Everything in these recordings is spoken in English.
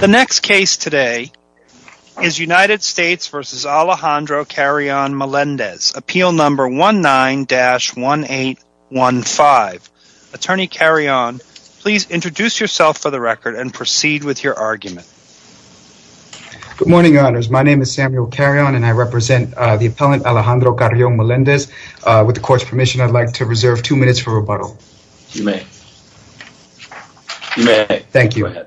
The next case today is United States v. Alejandro Carrion-Melendez, appeal number 19-1815. Attorney Carrion, please introduce yourself for the record and proceed with your argument. Good morning, your honors. My name is Samuel Carrion and I represent the appellant Alejandro Carrion-Melendez. With the court's permission, I'd like to reserve two minutes. Thank you.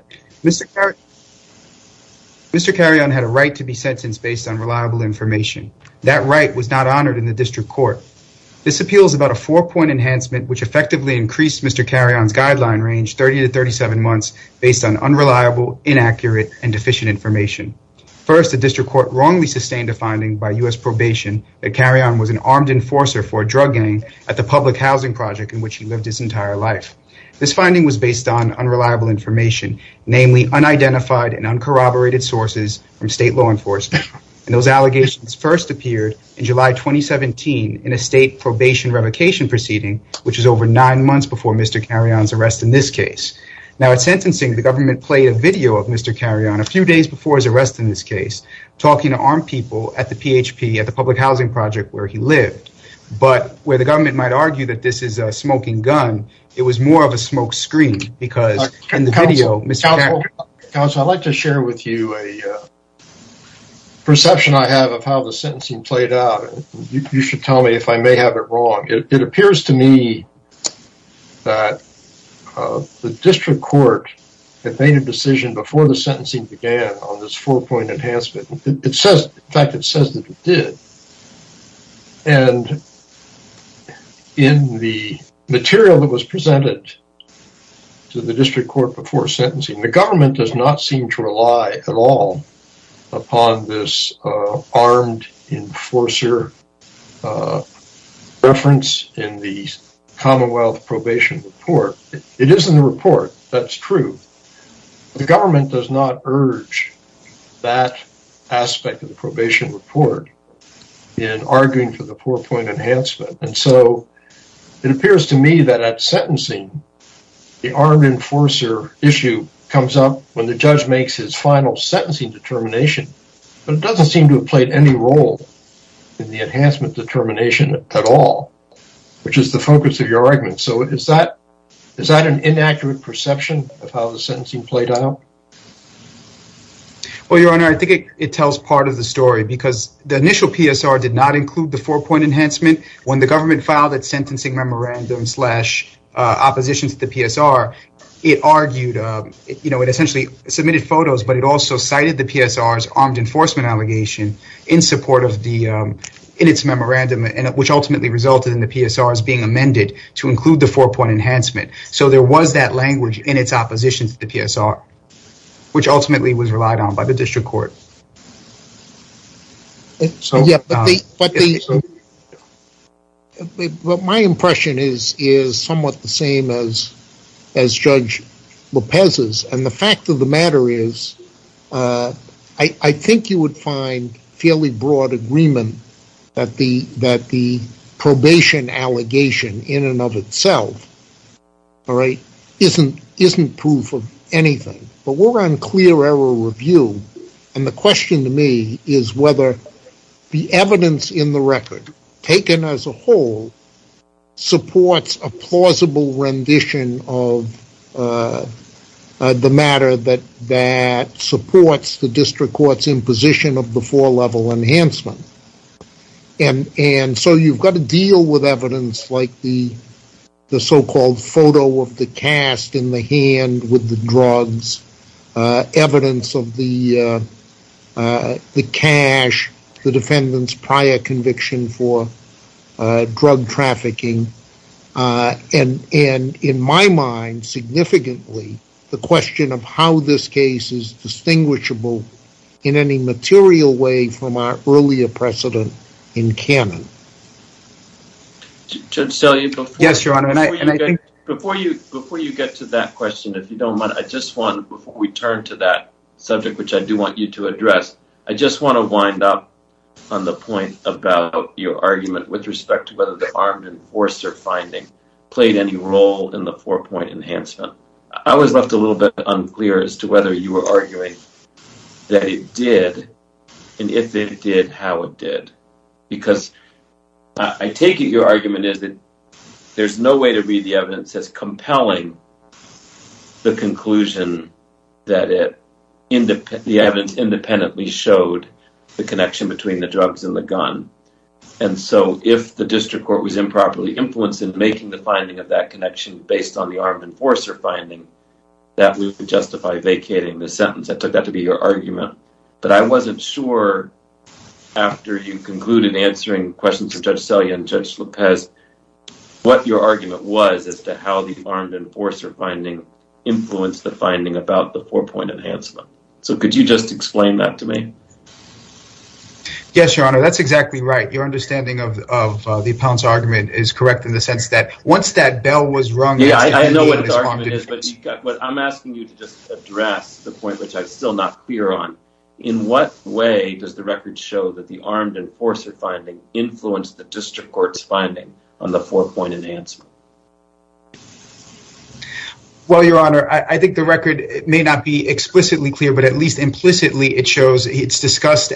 Mr. Carrion had a right to be sentenced based on reliable information. That right was not honored in the district court. This appeal is about a four-point enhancement which effectively increased Mr. Carrion's guideline range 30 to 37 months based on unreliable, inaccurate, and deficient information. First, the district court wrongly sustained a finding by U.S. probation that Carrion was an armed enforcer for a drug gang at the public housing project in which he lived his entire life. This finding was based on unreliable information, namely unidentified and uncorroborated sources from state law enforcement, and those allegations first appeared in July 2017 in a state probation revocation proceeding, which was over nine months before Mr. Carrion's arrest in this case. Now at sentencing, the government played a video of Mr. Carrion a few days before his arrest in this case, talking to armed people at the PHP, at the public housing project where he lived. But where the government might argue that this is a smoking gun, it was more of a smoke screen because in the video, Mr. Carrion- Counselor, I'd like to share with you a perception I have of how the sentencing played out. You should tell me if I may have it wrong. It appears to me that the district court had made a decision before the sentencing began on this four-point enhancement. It says, in fact, it says that it did. And in the material that was presented to the district court before sentencing, the government does not seem to rely at all upon this armed enforcer reference in the Commonwealth probation report. It is in the report, that's true. The government does not urge that aspect of the probation report in arguing for the four-point enhancement. And so it appears to me that at sentencing, the armed enforcer issue comes up when the judge makes his final sentencing determination, but it doesn't seem to have played any role in the enhancement determination at all, which is the focus of your argument. So is that an inaccurate perception of how the sentencing played out? Well, your honor, I think it tells part of the story because the initial PSR did not include the four-point enhancement. When the government filed that sentencing memorandum slash opposition to the PSR, it argued, you know, it essentially submitted photos, but it also cited the PSR's armed enforcement allegation in support of the, in its memorandum, and which ultimately resulted in the PSR's being amended to include the four-point enhancement. So there was that language in its opposition to the PSR, which ultimately was relied on by the district court. But my impression is somewhat the same as Judge Lopez's. And the fact of the matter is, I think you would find fairly broad agreement that the probation allegation in and of itself, all right, isn't proof of anything. But we're on clear error review, and the question to me is whether the evidence in the record, taken as a whole, supports a plausible rendition of the matter that supports the district court's imposition of the four-level enhancement. And so you've got to deal with evidence like the so-called photo of the cast in the hand with the drugs, evidence of the cash, the defendant's prior conviction for drug trafficking, and in my mind, significantly, the question of how this case is distinguishable in any material way from our earlier precedent in canon. Judge Selye, before you get to that question, if you don't mind, I just want, before we turn to that subject, which I do want you to address, I just want to wind up on the point about your argument with respect to whether the armed enforcer finding played any role in the four-point enhancement. I was left a little bit unclear as to whether you were arguing that it did, and if it did, how it did. Because I take it your argument is that there's no way to read evidence as compelling the conclusion that the evidence independently showed the connection between the drugs and the gun. And so if the district court was improperly influenced in making the finding of that connection based on the armed enforcer finding, that would justify vacating the sentence. I took that to be your argument. But I wasn't sure after you concluded answering questions for Judge Selye and Judge Lopez what your argument was as to how the armed enforcer finding influenced the finding about the four-point enhancement. So could you just explain that to me? Yes, your honor, that's exactly right. Your understanding of the appellant's argument is correct in the sense that once that bell was rung... Yeah, I know what his argument is, but I'm asking you to just address the point which I'm still not clear on. In what way does the record show that the armed enforcer finding influenced the district court's finding on the four-point enhancement? Well, your honor, I think the record may not be explicitly clear, but at least implicitly it shows it's discussed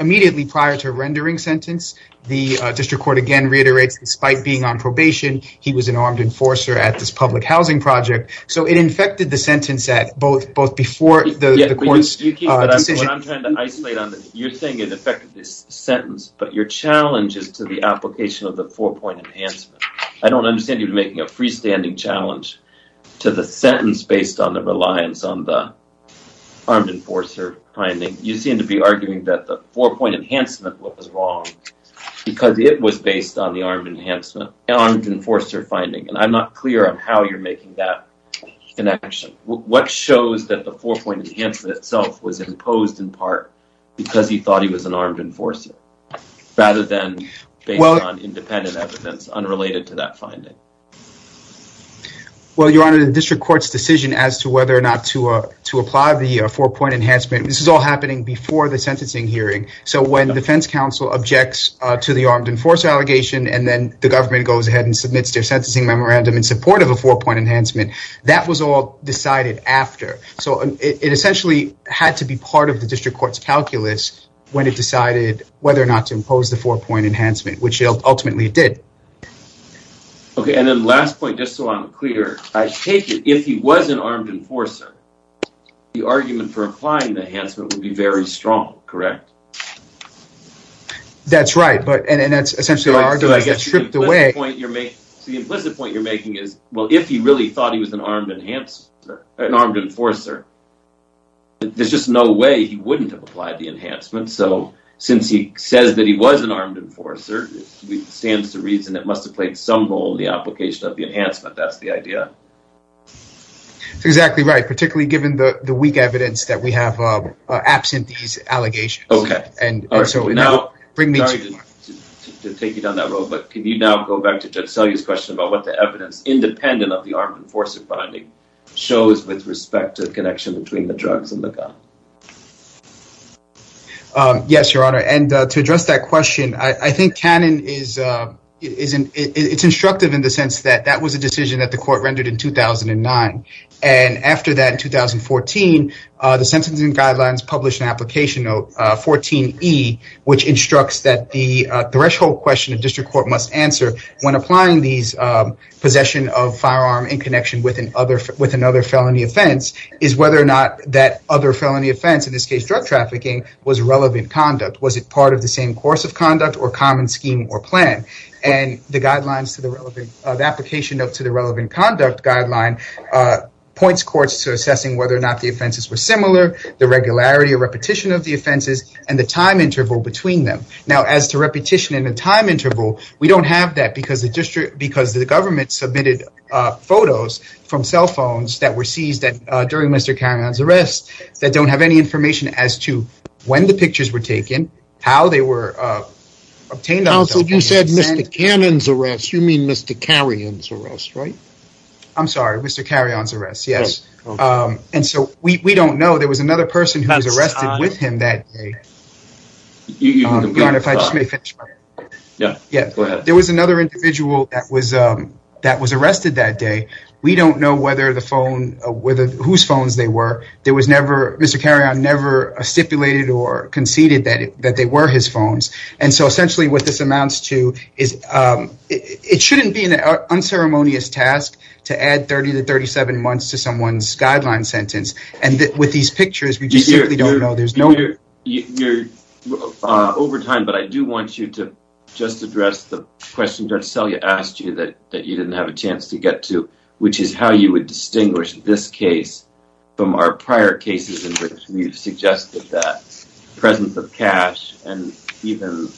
immediately prior to a rendering sentence. The district court again reiterates despite being on probation, he was an armed enforcer at this public housing project. So it infected the sentence at both before the court's decision. I'm trying to isolate on that. You're saying it affected this sentence, but your challenge is to the application of the four-point enhancement. I don't understand you making a freestanding challenge to the sentence based on the reliance on the armed enforcer finding. You seem to be arguing that the four-point enhancement was wrong because it was based on the armed enforcer finding. And I'm not clear on how you're making that connection. What shows that the four-point enhancement itself was imposed in part because he thought he was an armed enforcer rather than based on independent evidence unrelated to that finding? Well, your honor, the district court's decision as to whether or not to apply the four-point enhancement, this is all happening before the sentencing hearing. So when defense counsel objects to the armed enforcer allegation and then the government goes ahead and submits their sentencing memorandum in support of a four-point enhancement, that was all decided after. So it essentially had to be part of the district court's calculus when it decided whether or not to impose the four-point enhancement, which it ultimately did. Okay, and then last point, just so I'm clear, I take it if he was an armed enforcer, the argument for applying the enhancement would be very strong, correct? That's right, but and that's essentially the argument that's stripped away. So the implicit point you're making is, well, if he really thought he was an armed enhancer, an armed enforcer, there's just no way he wouldn't have applied the enhancement. So since he says that he was an armed enforcer, it stands to reason it must have played some role in the application of the enhancement. That's the idea. Exactly right, particularly given the the weak evidence that we have absent these allegations. Okay, and so now bring me... to take you down that road, but can you now go back to Judge Selye's question about what the evidence, independent of the armed enforcer finding, shows with respect to the connection between the drugs and the gun? Yes, your honor, and to address that question, I think canon is instructive in the sense that that was a decision that the court rendered in 2009, and after that in 2014, the sentencing guidelines published an application note, 14E, which instructs that the threshold question a district court must answer when applying these possession of firearm in connection with another felony offense is whether or not that other felony offense, in this case drug trafficking, was relevant conduct. Was it part of the same course of conduct or common scheme or plan? And the guidelines to the relevant... the application note to the relevant conduct guideline points courts to assessing whether or not the offenses were similar, the regularity or repetition of the offenses, and the time interval between them. Now, as to repetition in a time interval, we don't have that because the district... because the government submitted photos from cell phones that were seized during Mr. Carrion's arrest that don't have any information as to when the pictures were taken, how they were obtained. Counsel, you said Mr. Cannon's arrest, you mean Mr. Carrion's arrest, right? I'm sorry, Mr. Carrion's arrest, yes, and so we don't know. There was another person who was arrested with him that day. You want to... if I just may finish? Yeah, yeah, go ahead. There was another individual that was... that was arrested that day. We don't know whether the phone... whether... whose phones they were. There was never... Mr. Carrion never stipulated or conceded that that they were his phones, and so essentially what this amounts to is... it shouldn't be an unceremonious task to add 30 to 37 months to someone's guideline sentence, and with these pictures, we just simply don't know. There's no... You're over time, but I do want you to just address the question Judge Selye asked you that you didn't have a chance to get to, which is how you would distinguish this even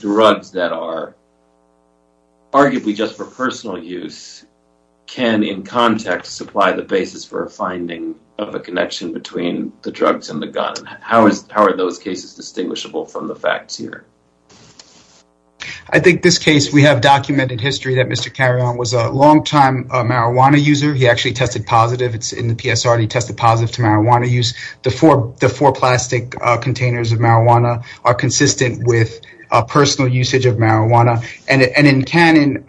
drugs that are arguably just for personal use can, in context, supply the basis for a finding of a connection between the drugs and the gun? How is... how are those cases distinguishable from the facts here? I think this case, we have documented history that Mr. Carrion was a long-time marijuana user. He actually tested positive. It's in the PSR. He tested positive to marijuana use. The four plastic containers of marijuana are consistent with a personal usage of marijuana, and in canon,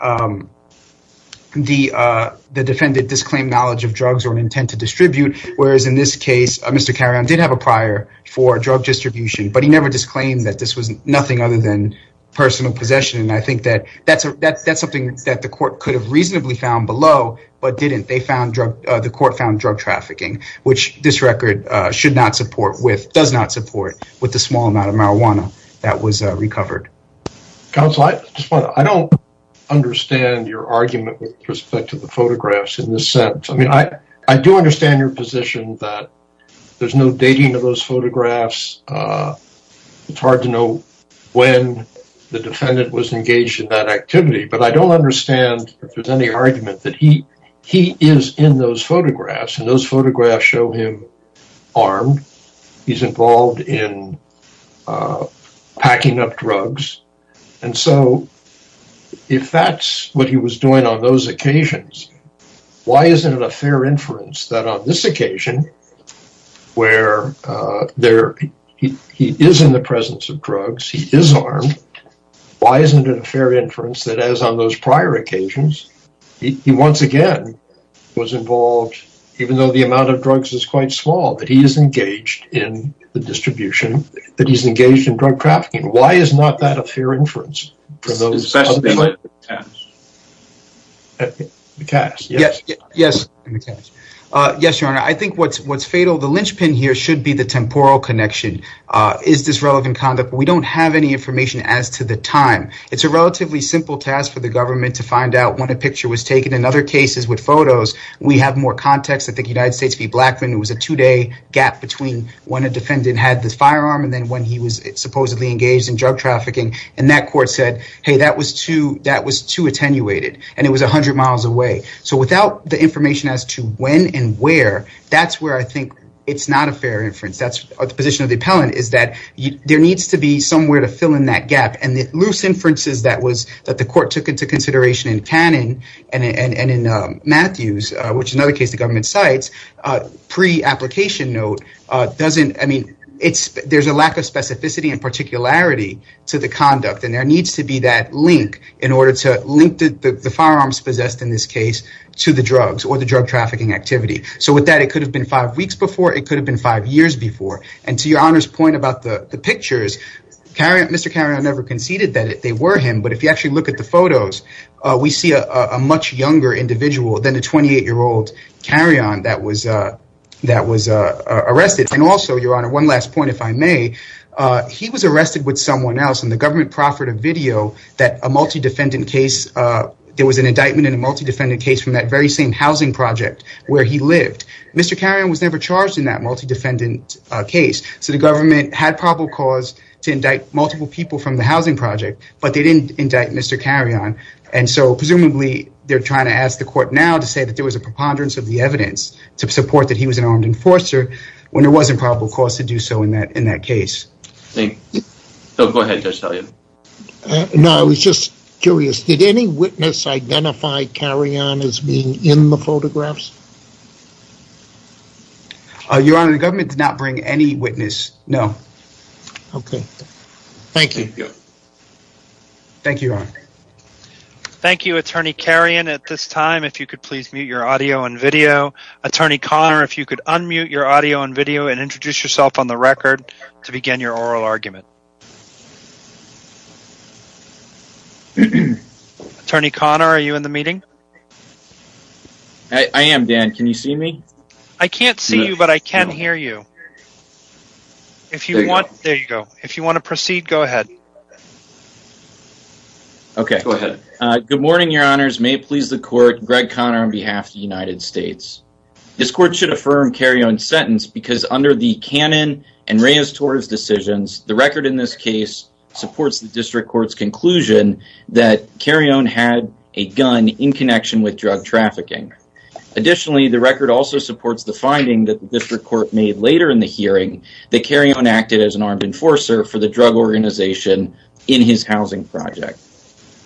the defendant disclaimed knowledge of drugs or an intent to distribute, whereas in this case, Mr. Carrion did have a prior for drug distribution, but he never disclaimed that this was nothing other than personal possession, and I think that that's something that the court could have reasonably found below, but didn't. They found drug... the court found drug trafficking, which this record should not support with... does not support with the small amount of marijuana that was recovered. Counsel, I just want to... I don't understand your argument with respect to the photographs in this sense. I mean, I do understand your position that there's no dating of those photographs. It's hard to know when the defendant was engaged in that activity, but I don't understand if there's any argument that he... he is in those photographs, and those photographs show him armed. He's involved in packing up drugs, and so if that's what he was doing on those occasions, why isn't it a fair inference that on this occasion, where there... he is in the presence of drugs, he is armed, why isn't it a fair inference that as on those prior occasions, he once again was involved, even though the amount of drugs is quite small, that he is engaged in the distribution, that he's engaged in drug trafficking? Why is not that a fair inference for those... Yes, yes, yes, your honor. I think what's... what's fatal, the linchpin here should be the temporal connection. Is this relevant conduct? We don't have any to find out when a picture was taken. In other cases with photos, we have more context. I think United States v. Blackmun, it was a two-day gap between when a defendant had the firearm and then when he was supposedly engaged in drug trafficking, and that court said, hey, that was too... that was too attenuated, and it was 100 miles away. So without the information as to when and where, that's where I think it's not a fair inference. That's the position of the appellant, is that there needs to be somewhere to fill in that gap, and the loose inferences that was... that the court took into consideration in Cannon and in Matthews, which is another case the government cites, pre-application note, doesn't... I mean, it's... there's a lack of specificity and particularity to the conduct, and there needs to be that link in order to link the firearms possessed in this case to the drugs or the drug trafficking activity. So with that, it could have been five weeks before, it could have been five years before, and to Your Honor's point about the pictures, Mr. Carrion never conceded that they were him, but if you actually look at the photos, we see a much younger individual than the 28-year-old Carrion that was arrested. And also, Your Honor, one last point, if I may, he was arrested with someone else, and the government proffered a video that a multi-defendant case... there was an indictment in a multi-defendant case from that very same housing project where he lived. Mr. Carrion was never charged in that multi-defendant case, so the government had probable cause to indict multiple people from the housing project, but they didn't indict Mr. Carrion. And so, presumably, they're trying to ask the court now to say that there was a preponderance of the evidence to support that he was an armed enforcer when there wasn't probable cause to do so in that... in that case. Thank you. Bill, go ahead, Judge Talia. No, I was just curious, did any witness identify Carrion as being in the photographs? Your Honor, the government did not bring any witness, no. Okay, thank you. Thank you, Your Honor. Thank you, Attorney Carrion. At this time, if you could please mute your audio and video. Attorney Conner, if you could unmute your audio and video and introduce yourself on the record to begin your oral argument. Attorney Conner, are you in the meeting? I am, Dan. Can you see me? I can't see you, but I can hear you. If you want... there you go. If you want to proceed, go ahead. Okay, go ahead. Good morning, Your Honors. May it please the court, Greg Conner on behalf of the United States. This court should affirm Carrion's sentence because under the Cannon and Reyes-Torres decisions, the record in this case supports the District Court's conclusion that Carrion had a gun in connection with drug trafficking. Additionally, the record also supports the finding that the District Court made later in the hearing that Carrion acted as an armed enforcer for the drug organization in his housing project.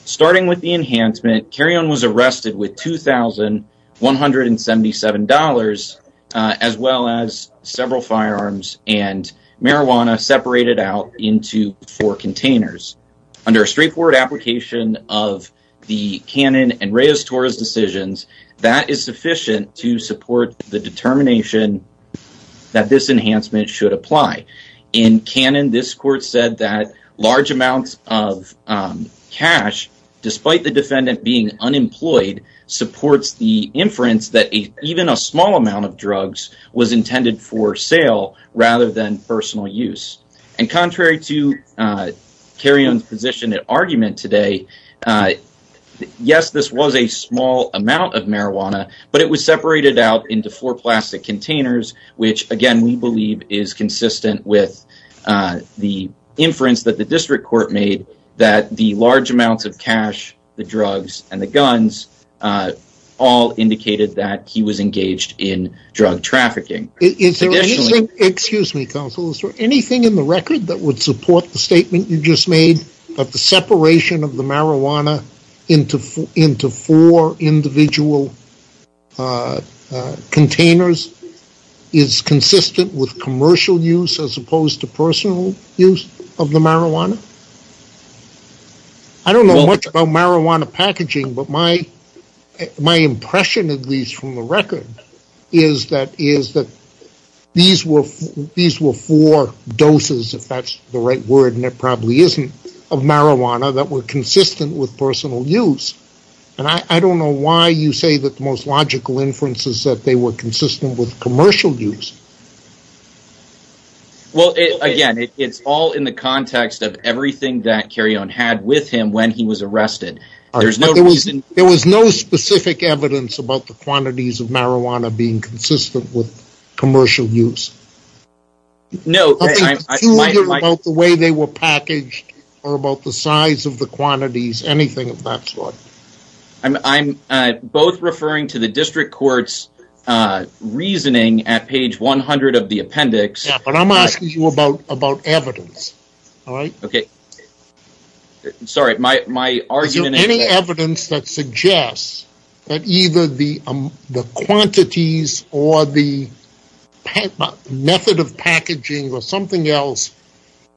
Starting with the enhancement, Carrion was arrested with $2,177 as well as several firearms and marijuana separated out into four containers. Under a straightforward application of the Cannon and Reyes-Torres decisions, that is sufficient to support the determination that this enhancement should apply. In Cannon, this court said that large amounts of cash, despite the defendant being unemployed, supports the inference that even a small amount of drugs was intended for sale rather than personal use. And contrary to Carrion's position and argument today, yes, this was a small amount of marijuana, but it was separated out into four plastic containers, which again we believe is consistent with the inference that the District Court made that the large amounts of cash, the drugs, and the guns all indicated that he was engaged in drug trafficking. Is there anything in the record that would support the statement you just made that the separation of the marijuana into four individual containers is consistent with commercial use as opposed to personal use of the marijuana? I don't know much about marijuana packaging, but my impression, at least from the record, is that these were four doses, if that's the right word and it probably isn't, of marijuana that were consistent with personal use. And I don't know why you say that the most logical inference is that they were consistent with commercial use. Well, again, it's all in the context of everything that Carrion had with him when he was arrested. There was no specific evidence about the quantities of marijuana being consistent with commercial use? No. Nothing peculiar about the way they were packaged or about the size of the quantities, anything of that sort? I'm both referring to the District Court's reasoning at page 100 of the appendix. Yeah, but I'm asking you about evidence, all right? Is there any evidence that suggests that either the quantities or the method of packaging or something else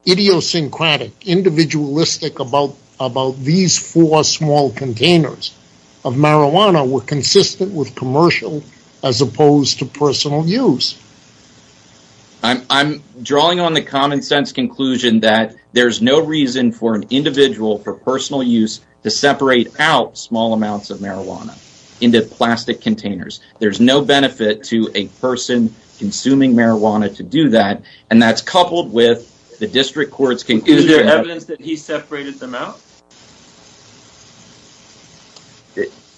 idiosyncratic, individualistic about these four small containers of marijuana were consistent with commercial as opposed to personal use? I'm drawing on the common sense conclusion that there's no reason for an individual for personal use to separate out small amounts of marijuana into plastic containers. There's no benefit to a person consuming marijuana to do that, and that's coupled with the District Court's conclusion. Is there evidence that he separated them out?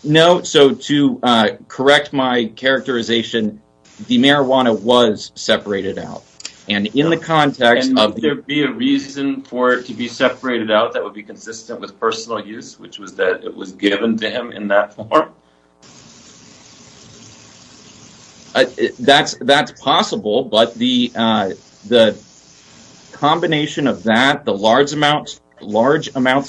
No. So, to correct my characterization, the marijuana was separated out, and in the context of... And there be a reason for it to be separated out that would be consistent with personal use, which was that it was given to him in that form? That's possible, but the combination of that, the large amounts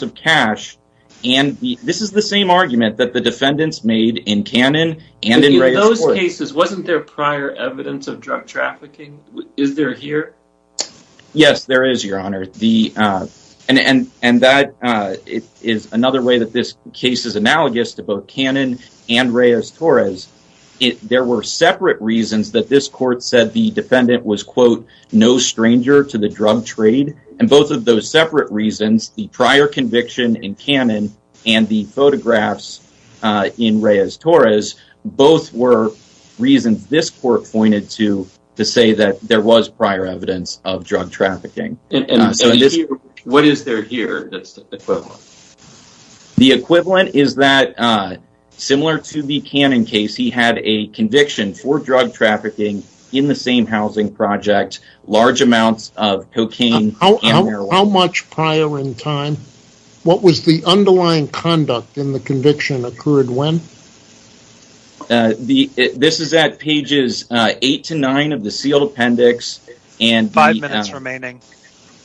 of cash, and this is the same argument that the defendants made in Cannon and in Reyes-Torres. In those cases, wasn't there prior evidence of drug trafficking? Is there here? Yes, there is, Your Honor. And that is another way that this case is analogous to both Cannon and Reyes-Torres. There were separate reasons that this court said the defendant was, quote, stranger to the drug trade. And both of those separate reasons, the prior conviction in Cannon and the photographs in Reyes-Torres, both were reasons this court pointed to to say that there was prior evidence of drug trafficking. What is there here that's equivalent? The equivalent is that, similar to the Cannon case, he had a conviction for drug trafficking in the same housing project, large amounts of cocaine and marijuana. How much prior in time? What was the underlying conduct in the conviction occurred when? This is at pages eight to nine of the sealed appendix. Five minutes remaining.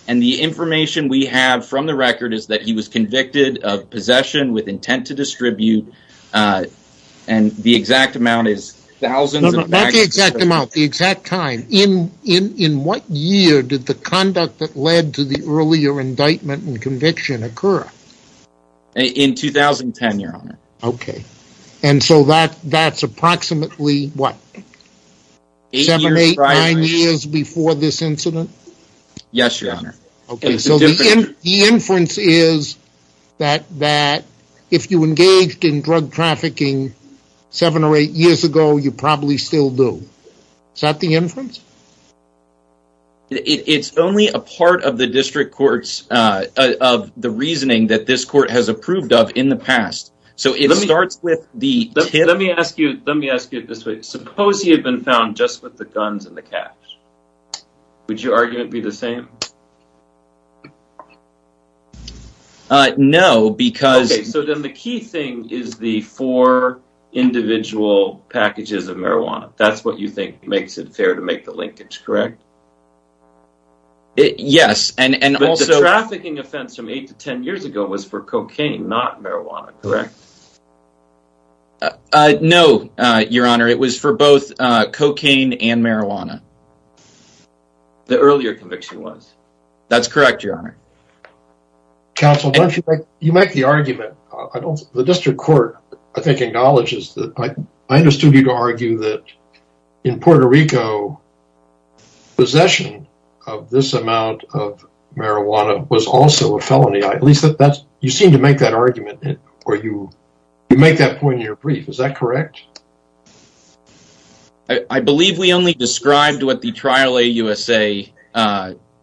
And the information we have from the record is that he was convicted of possession with intent to distribute. And the exact amount is thousands of packages. Not the exact amount, the exact time. In what year did the conduct that led to the earlier indictment and conviction occur? In 2010, Your Honor. Okay. And so that's approximately what? Seven, eight, nine years before this incident? Yes, Your Honor. Okay. So the inference is that if you engaged in drug trafficking seven or eight years ago, you probably still do. Is that the inference? It's only a part of the district court's, of the reasoning that this court has approved of in the past. So it starts with the tip. Let me ask you, let me ask you this way. Suppose he had been found just with the guns and the cash. Would your argument be the same? Uh, no, because... Okay, so then the key thing is the four individual packages of marijuana. That's what you think makes it fair to make the linkage, correct? Yes, and also... But the trafficking offense from eight to ten years ago was for cocaine, not marijuana, correct? No, Your Honor. It was for both cocaine and marijuana. The earlier conviction was? That's correct, Your Honor. Counsel, don't you think you make the argument, I don't, the district court, I think, acknowledges that I understood you to argue that in Puerto Rico, possession of this amount of marijuana was also a felony. At least that's, you seem to make that argument, or you make that point in your brief. Is that correct? I believe we only described what the trial AUSA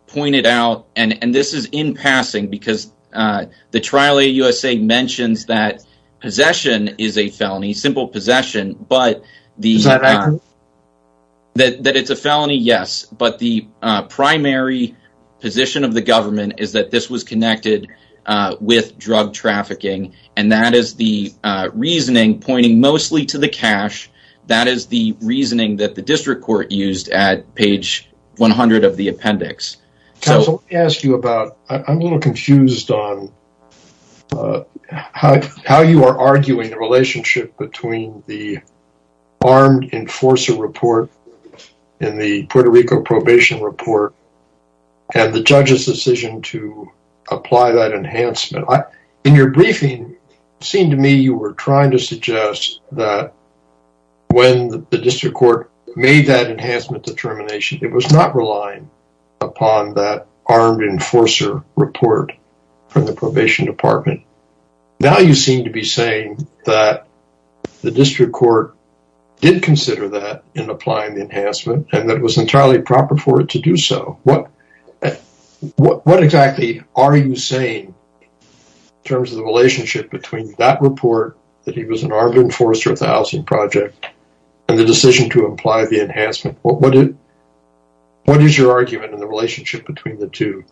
pointed out, and this is in passing because the trial AUSA mentions that possession is a felony, simple possession, but the... That it's a felony, yes, but the primary position of the government is that this was connected with drug trafficking, and that is the reasoning pointing mostly to the cash. That is the reasoning that the district court used at page 100 of the appendix. Counsel, let me ask you about, I'm a little confused on how you are arguing the relationship between the armed enforcer report in the Puerto Rico probation report and the judge's decision to apply that enhancement. In your briefing, it seemed to me you were trying to suggest that when the district court made that enhancement determination, it was not relying upon that armed enforcer report from the probation department. Now you seem to be saying that the district court did consider that in applying the enhancement, and that it was entirely proper for it to do so. What exactly are you saying in terms of the relationship between that report, that he was an armed enforcer of the housing project, and the decision to apply the enhancement? What is your argument in the relationship between the two?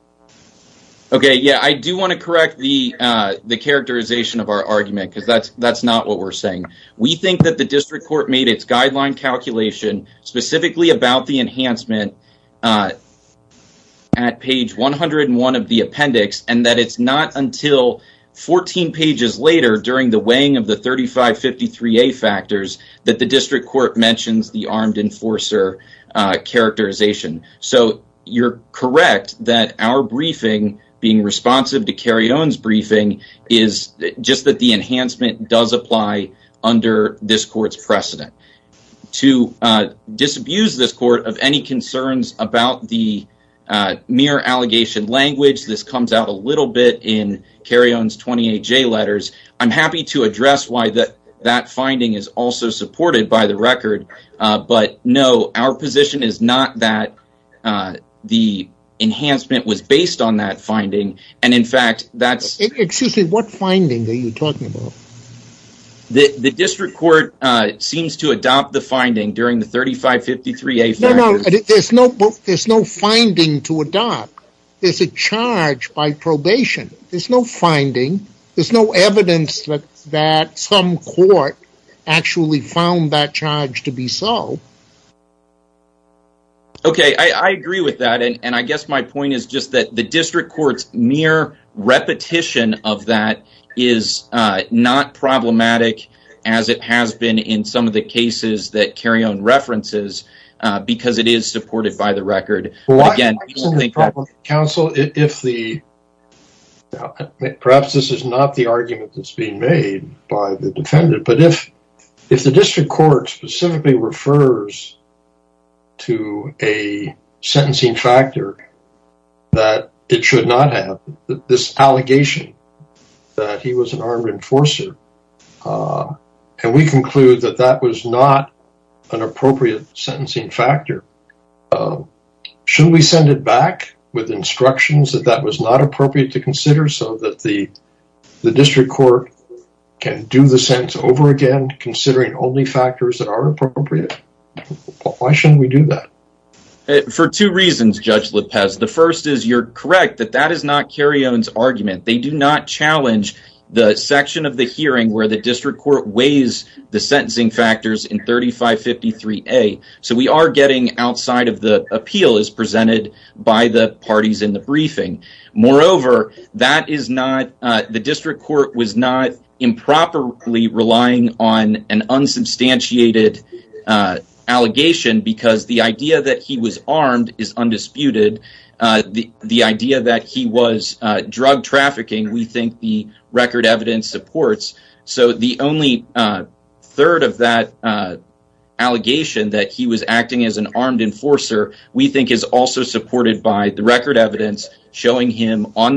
Okay, yeah, I do want to correct the characterization of our argument, because that's not what we're saying. We think that the district court made its guideline calculation specifically about the enhancement at page 101 of the appendix, and that it's not until 14 pages later, during the weighing of the 3553A factors, that the district court mentions the armed enforcer characterization. So you're correct that our briefing, being responsive to to disabuse this court of any concerns about the mere allegation language, this comes out a little bit in Carrion's 28J letters. I'm happy to address why that that finding is also supported by the record, but no, our position is not that the enhancement was based on that finding, and in fact that's... Excuse me, what finding are you talking about? The district court seems to adopt the finding during the 3553A factors. No, no, there's no finding to adopt. There's a charge by probation. There's no finding. There's no evidence that some court actually found that charge to be so. Okay, I agree with that, and I guess my point is just that the district court's mere repetition of that is not problematic, as it has been in some of the cases that Carrion references, because it is supported by the record. Again, I don't think that... Counsel, if the... Perhaps this is not the argument that's being made by the defendant, but if the district court specifically refers to a sentencing factor that it should not have, this allegation that he was an armed enforcer, and we conclude that that was not an appropriate sentencing factor, should we send it back with instructions that that was not appropriate to considering only factors that are appropriate? Why shouldn't we do that? For two reasons, Judge Lopez. The first is you're correct that that is not Carrion's argument. They do not challenge the section of the hearing where the district court weighs the sentencing factors in 3553A, so we are getting outside of the appeal as presented by the parties in the briefing. Moreover, the district court was not improperly relying on an unsubstantiated allegation because the idea that he was armed is undisputed. The idea that he was drug trafficking, we think the record evidence supports, so the only third of that allegation that he was acting as an on the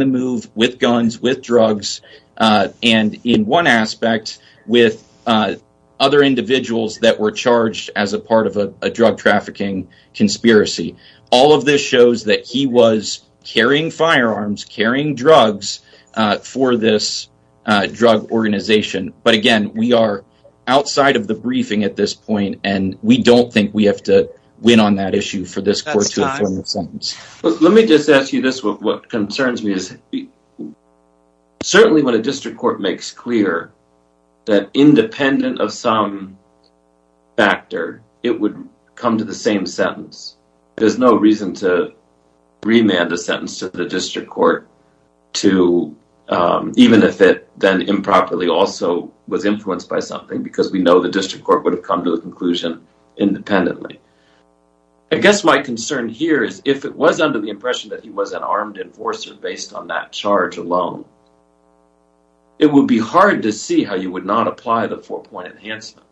move with guns, with drugs, and in one aspect with other individuals that were charged as a part of a drug trafficking conspiracy. All of this shows that he was carrying firearms, carrying drugs for this drug organization, but again, we are outside of the briefing at this point, and we don't think we have to win on that issue for this court to inform the sentence. Let me just ask you this. What concerns me is certainly when a district court makes clear that independent of some factor, it would come to the same sentence. There's no reason to remand a sentence to the district court, even if it then improperly also was influenced by something, because we know the district court would have come to the conclusion independently. I guess my under the impression that he was an armed enforcer based on that charge alone. It would be hard to see how you would not apply the four-point enhancement,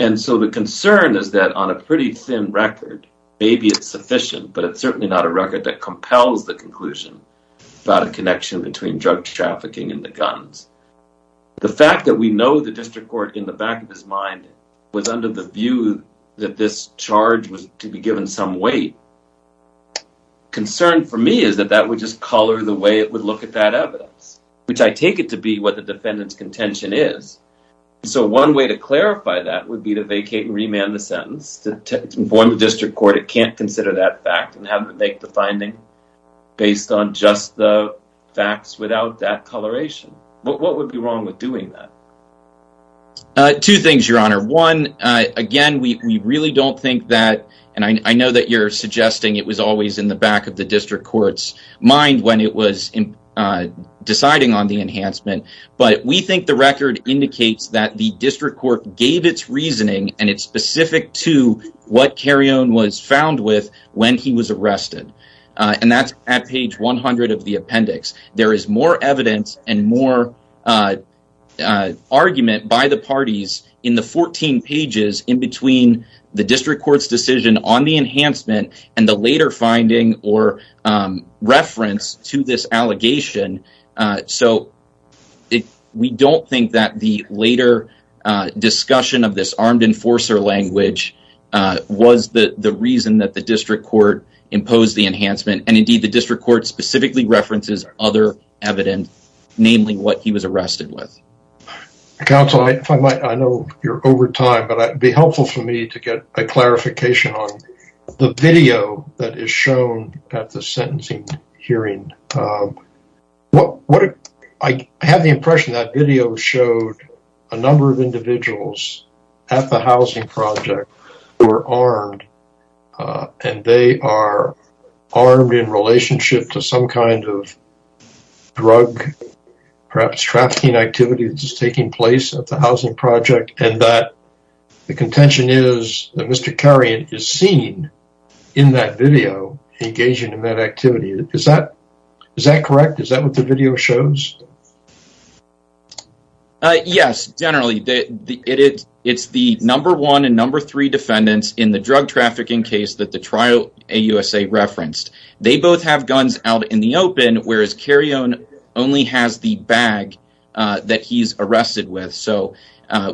and so the concern is that on a pretty thin record, maybe it's sufficient, but it's certainly not a record that compels the conclusion about a connection between drug trafficking and the guns. The fact that we know the district court in the back of his mind was under the view that this some weight, concern for me is that that would just color the way it would look at that evidence, which I take it to be what the defendant's contention is, so one way to clarify that would be to vacate and remand the sentence to inform the district court it can't consider that fact and have to make the finding based on just the facts without that coloration. What would be wrong with doing that? Two things, Your Honor. One, again, we really don't think that, and I know that you're suggesting it was always in the back of the district court's mind when it was deciding on the enhancement, but we think the record indicates that the district court gave its reasoning and it's specific to what Carrion was found with when he was arrested, and that's at page 100 of the appendix. There is more evidence and more argument by the parties in the 14 pages in between the district court's decision on the enhancement and the later finding or reference to this allegation, so we don't think that the later discussion of this armed enforcer language was the reason that the district court imposed the enhancement, and, indeed, the district court specifically references other evidence, namely what he was arrested with. Counsel, if I might, I know you're over time, but it would be helpful for me to get a clarification on the video that is shown at the sentencing hearing. I have the impression that video showed a number of individuals at the housing project who were armed, and they are armed in relationship to some kind of drug, perhaps trafficking activity that's taking place at the housing project, and that the contention is that Mr. Carrion is seen in that video engaging in that activity. Is that correct? It's the number one and number three defendants in the drug trafficking case that the trial AUSA referenced. They both have guns out in the open, whereas Carrion only has the bag that he's arrested with, so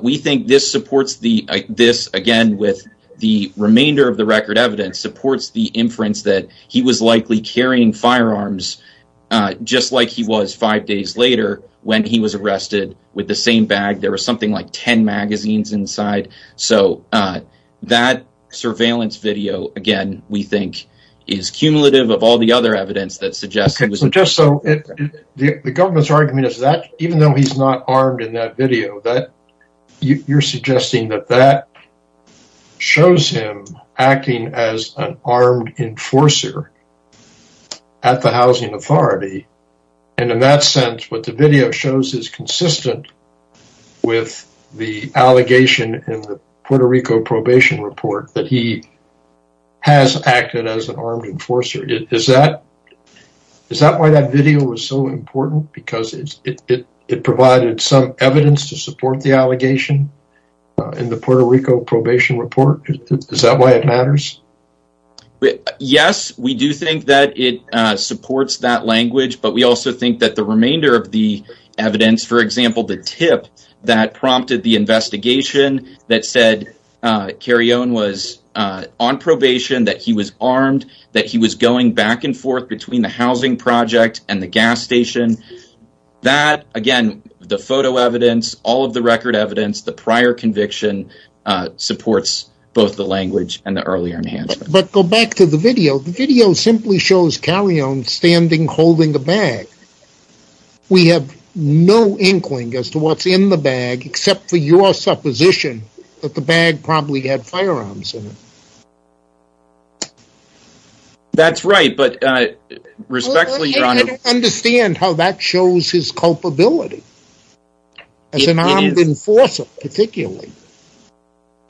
we think this supports the, this again with the remainder of the record evidence, supports the inference that he was likely carrying firearms just like he was five later when he was arrested with the same bag. There was something like 10 magazines inside, so that surveillance video, again, we think is cumulative of all the other evidence that suggests it was just so the government's argument is that even though he's not armed in that video, that you're suggesting that that shows him acting as an armed enforcer at the housing authority, and in that sense what the video shows is consistent with the allegation in the Puerto Rico probation report that he has acted as an armed enforcer. Is that why that video was so important? Because it provided some evidence to support the allegation in the Puerto Rico but we also think that the remainder of the evidence, for example, the tip that prompted the investigation that said Carrion was on probation, that he was armed, that he was going back and forth between the housing project and the gas station, that again, the photo evidence, all of the record evidence, the prior conviction supports both the language and the earlier But go back to the video. The video simply shows Carrion standing holding a bag. We have no inkling as to what's in the bag except for your supposition that the bag probably had firearms in it. That's right, but respectfully, your honor, I don't understand how that shows his culpability as an armed enforcer particularly.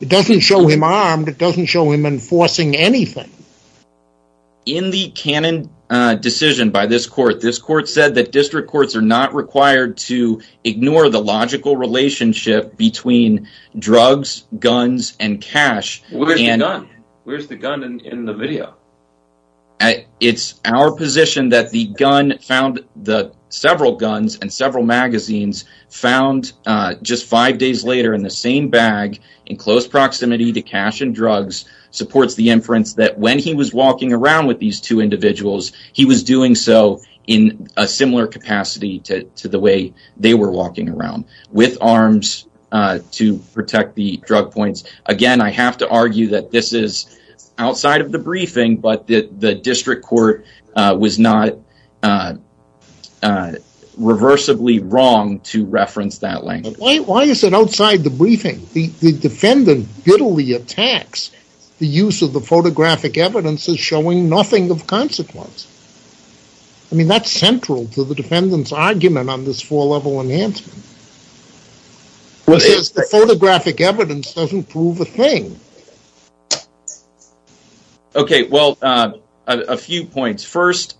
It doesn't show him armed. It doesn't show him enforcing anything. In the canon decision by this court, this court said that district courts are not required to ignore the logical relationship between drugs, guns, and cash. Where's the gun in the video? It's our position that the gun found the several guns and several magazines found just five days later in the same bag in close proximity to cash and drugs supports the inference that when he was walking around with these two individuals, he was doing so in a similar capacity to the way they were walking around with arms to protect the drug points. Again, I have to argue that this is outside of the briefing but that the district court was not reversibly wrong to reference that language. Why is it outside the briefing? The defendant bitterly attacks the use of the photographic evidence as showing nothing of consequence. I mean, that's central to the defendant's argument on this four-level enhancement. The photographic evidence doesn't prove a thing. Okay, well, a few points. First,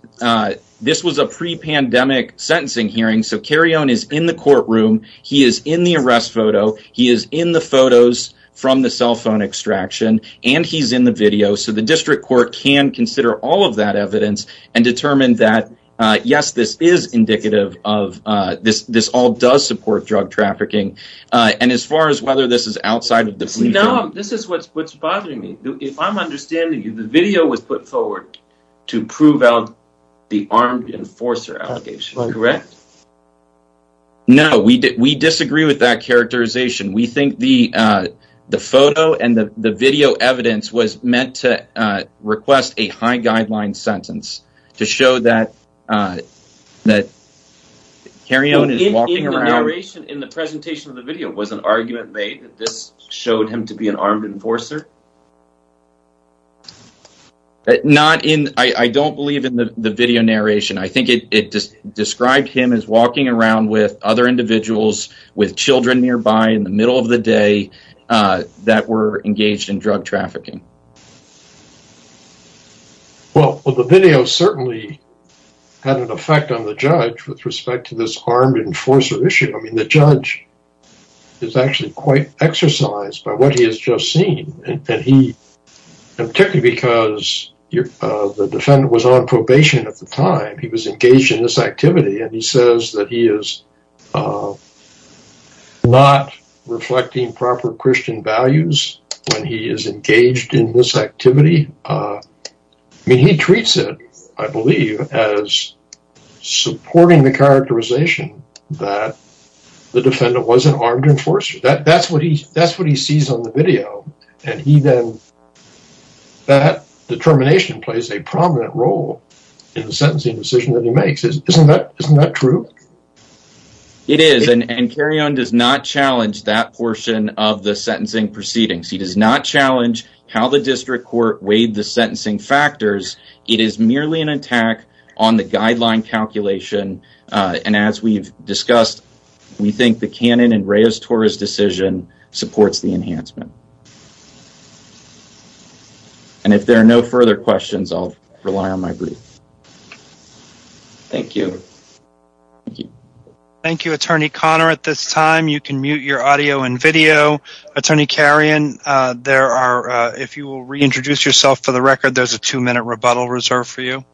this was a pre-pandemic sentencing hearing so Carrion is in the courtroom. He is in the arrest photo. He is in the photos from the cell phone extraction and he's in the video so the district court can consider all of that evidence and determine that yes, this is indicative of this. This all does support drug trafficking and as far as whether this is outside of the briefing. No, this is what's bothering me. If I'm understanding you, the video was put forward to prove out the armed enforcer allegation, correct? No, we disagree with that characterization. We think the photo and the video evidence was meant to request a high guideline sentence to show that Carrion is walking around. The narration in the presentation of the video was an argument made that this showed him to be an armed enforcer? Not in, I don't believe in the video narration. I think it just described him as walking around with other individuals with children nearby in the middle of the day that were engaged in drug trafficking. Well, the video certainly had an effect on the judge with respect to this armed enforcer issue. I mean, the judge is actually quite exercised by what he has just seen and he, particularly because the defendant was on probation at the time, he was engaged in this activity and he says that he is not reflecting proper Christian values when he is engaged in this activity. I mean, he treats it, I believe, as supporting the characterization that the defendant was an armed enforcer. That's what he sees on the video and he then, that determination plays a prominent role in the sentencing decision that he makes. Isn't that true? It is, and Carrion does not challenge that portion of the sentencing proceedings. He does not court-weight the sentencing factors. It is merely an attack on the guideline calculation and as we've discussed, we think the Cannon and Reyes-Torres decision supports the enhancement. And if there are no further questions, I'll rely on my brief. Thank you. Thank you, Attorney Conner. At this time, you can mute your audio and video. Attorney Carrion, if you will reintroduce yourself for the record, there's a two-minute rebuttal reserved for you.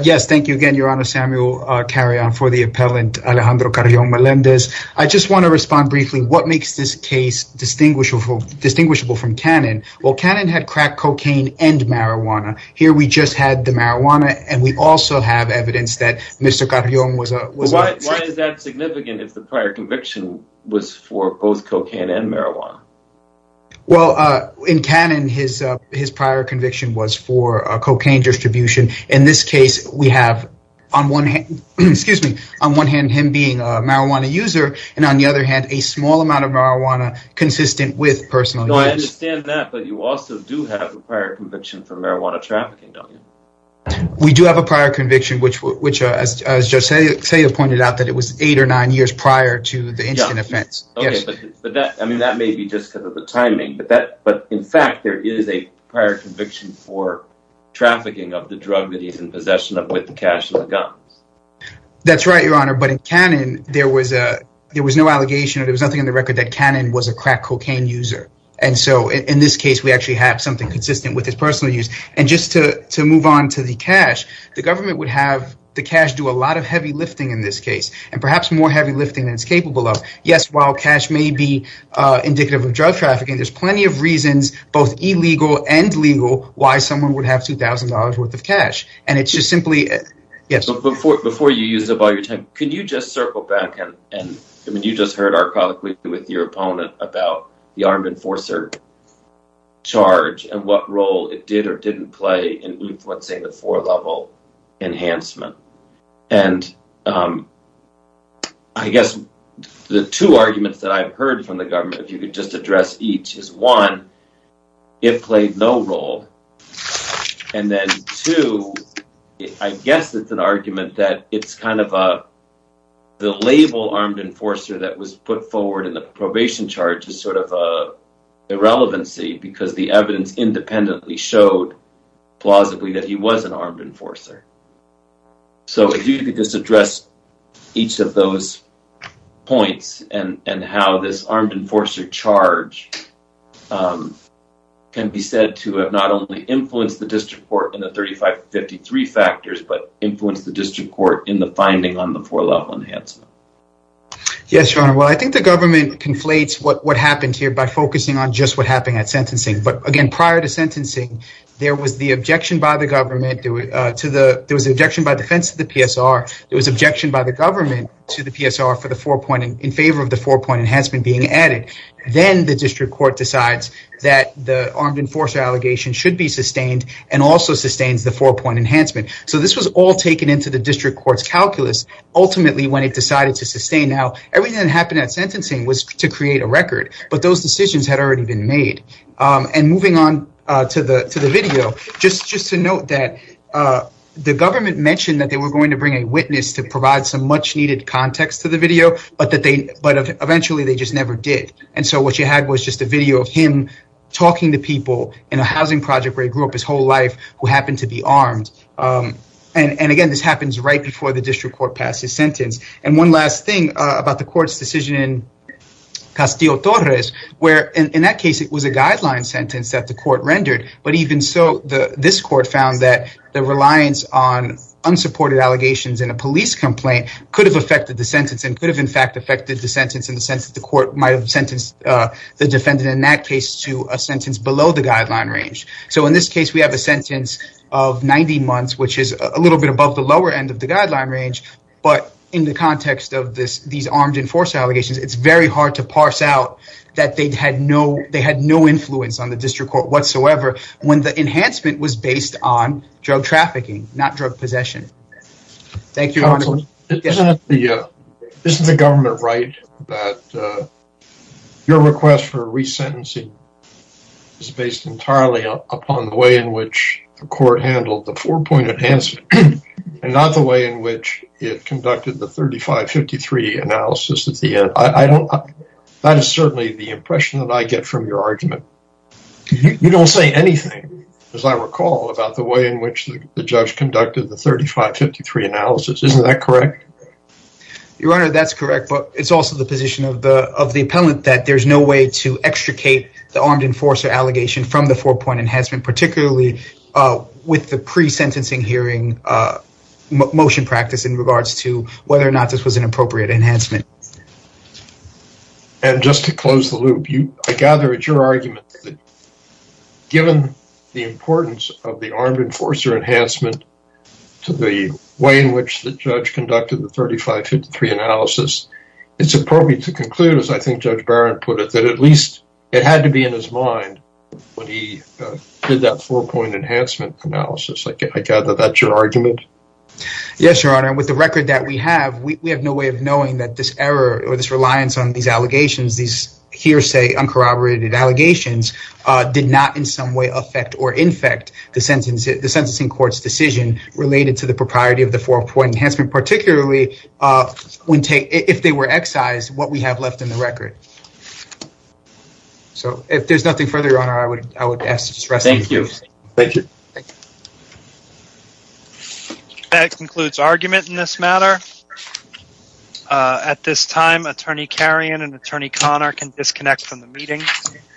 Yes, thank you again, Your Honor. Samuel Carrion for the appellant Alejandro Carrion Melendez. I just want to respond briefly. What makes this case distinguishable from Cannon? Well, Cannon had crack cocaine and marijuana. Here, we just had the marijuana and we also have evidence that Mr. Carrion was a... Well, why is that significant if the prior conviction was for both cocaine and marijuana? Well, in Cannon, his prior conviction was for a cocaine distribution. In this case, we have on one hand, excuse me, on one hand, him being a marijuana user and on the other hand, a small amount of marijuana consistent with personal use. No, I understand that, but you also do have a prior conviction for marijuana trafficking, don't you? We do have a prior conviction, which as Judge Celia pointed out, that it was eight or nine years prior to the incident offense. Okay, but that, I mean, that may be just because of the timing, but in fact, there is a prior conviction for trafficking of the drug that he's in possession of with the cash and the guns. That's right, Your Honor, but in Cannon, there was no allegation or there was nothing in the record that Cannon was a crack cocaine user. And so, in this case, we actually have something consistent with his personal use. And just to move on to the cash, the government would have the cash do a lot of heavy lifting in this case and perhaps more heavy lifting than it's capable of. Yes, while cash may be indicative of drug trafficking, there's plenty of reasons, both illegal and legal, why someone would have $2,000 worth of cash. Before you use up all your time, can you just circle back and, I mean, you just heard archaically with your opponent about the armed enforcer. Charge and what role it did or didn't play in what, say, the four-level enhancement. And I guess the two arguments that I've heard from the government, if you could just address each, is one, it played no role. And then two, I guess it's an argument that it's kind of a, the label armed enforcer that was put forward in the probation charge is sort of a relevancy because the evidence independently showed plausibly that he was an armed enforcer. So, if you could just address each of those points and how this armed enforcer charge can be said to have not only influenced the district court in the 3553 factors, but influenced the district court in the finding on the four-level enhancement. Yes, your honor. Well, I think the government conflates what happened here by focusing on just what happened at sentencing. But again, prior to sentencing, there was the objection by the government, there was objection by defense to the PSR, there was objection by the government to the PSR in favor of the four-point enhancement being added. Then the district court decides that the armed enforcer allegation should be sustained and also sustains the four-point enhancement. So, this was all taken into the district court's calculus ultimately when it decided to sustain. Now, everything that happened at sentencing was to create a record, but those decisions had already been made. And moving on to the video, just to note that the government mentioned that they were going to bring a witness to provide some much-needed context to the video, but eventually they just never did. And so, what you had was just a video of him talking to people in a housing project where he grew up his whole life who happened to be armed. And again, this happens right before the district court passes sentence. And one last thing about the court's decision in Castillo-Torres, where in that case, it was a guideline sentence that the court rendered, but even so, this court found that the reliance on unsupported allegations in a police complaint could have affected the sentence and could have, in fact, affected the sentence in the sense that the court might have sentenced the defendant in that case to a sentence below the guideline range. So, in this case, we have a sentence of 90 months, which is a little bit above the lower end of the guideline range, but in the context of these armed enforcer allegations, it's very hard to parse out that they had no influence on the district court whatsoever when the enhancement was based on drug trafficking, not drug possession. Thank you. Isn't the government right that your request for resentencing is based entirely upon the way in and not the way in which it conducted the 3553 analysis at the end? That is certainly the impression that I get from your argument. You don't say anything, as I recall, about the way in which the judge conducted the 3553 analysis. Isn't that correct? Your Honor, that's correct, but it's also the position of the appellant that there's no way to extricate the armed enforcer allegation from the four-point enhancement, particularly with the pre-sentencing hearing motion practice in regards to whether or not this was an appropriate enhancement. And just to close the loop, I gather it's your argument that given the importance of the armed enforcer enhancement to the way in which the judge conducted the 3553 analysis, it's appropriate to when he did that four-point enhancement analysis. I gather that's your argument. Yes, Your Honor. With the record that we have, we have no way of knowing that this error or this reliance on these allegations, these hearsay uncorroborated allegations, did not in some way affect or infect the sentencing court's decision related to the propriety of the four-point enhancement, particularly if they were excised, what we have left in the record. Okay. So if there's nothing further, Your Honor, I would ask to just rest. Thank you. Thank you. That concludes argument in this matter. At this time, Attorney Kerrion and Attorney Connor can disconnect from the meeting.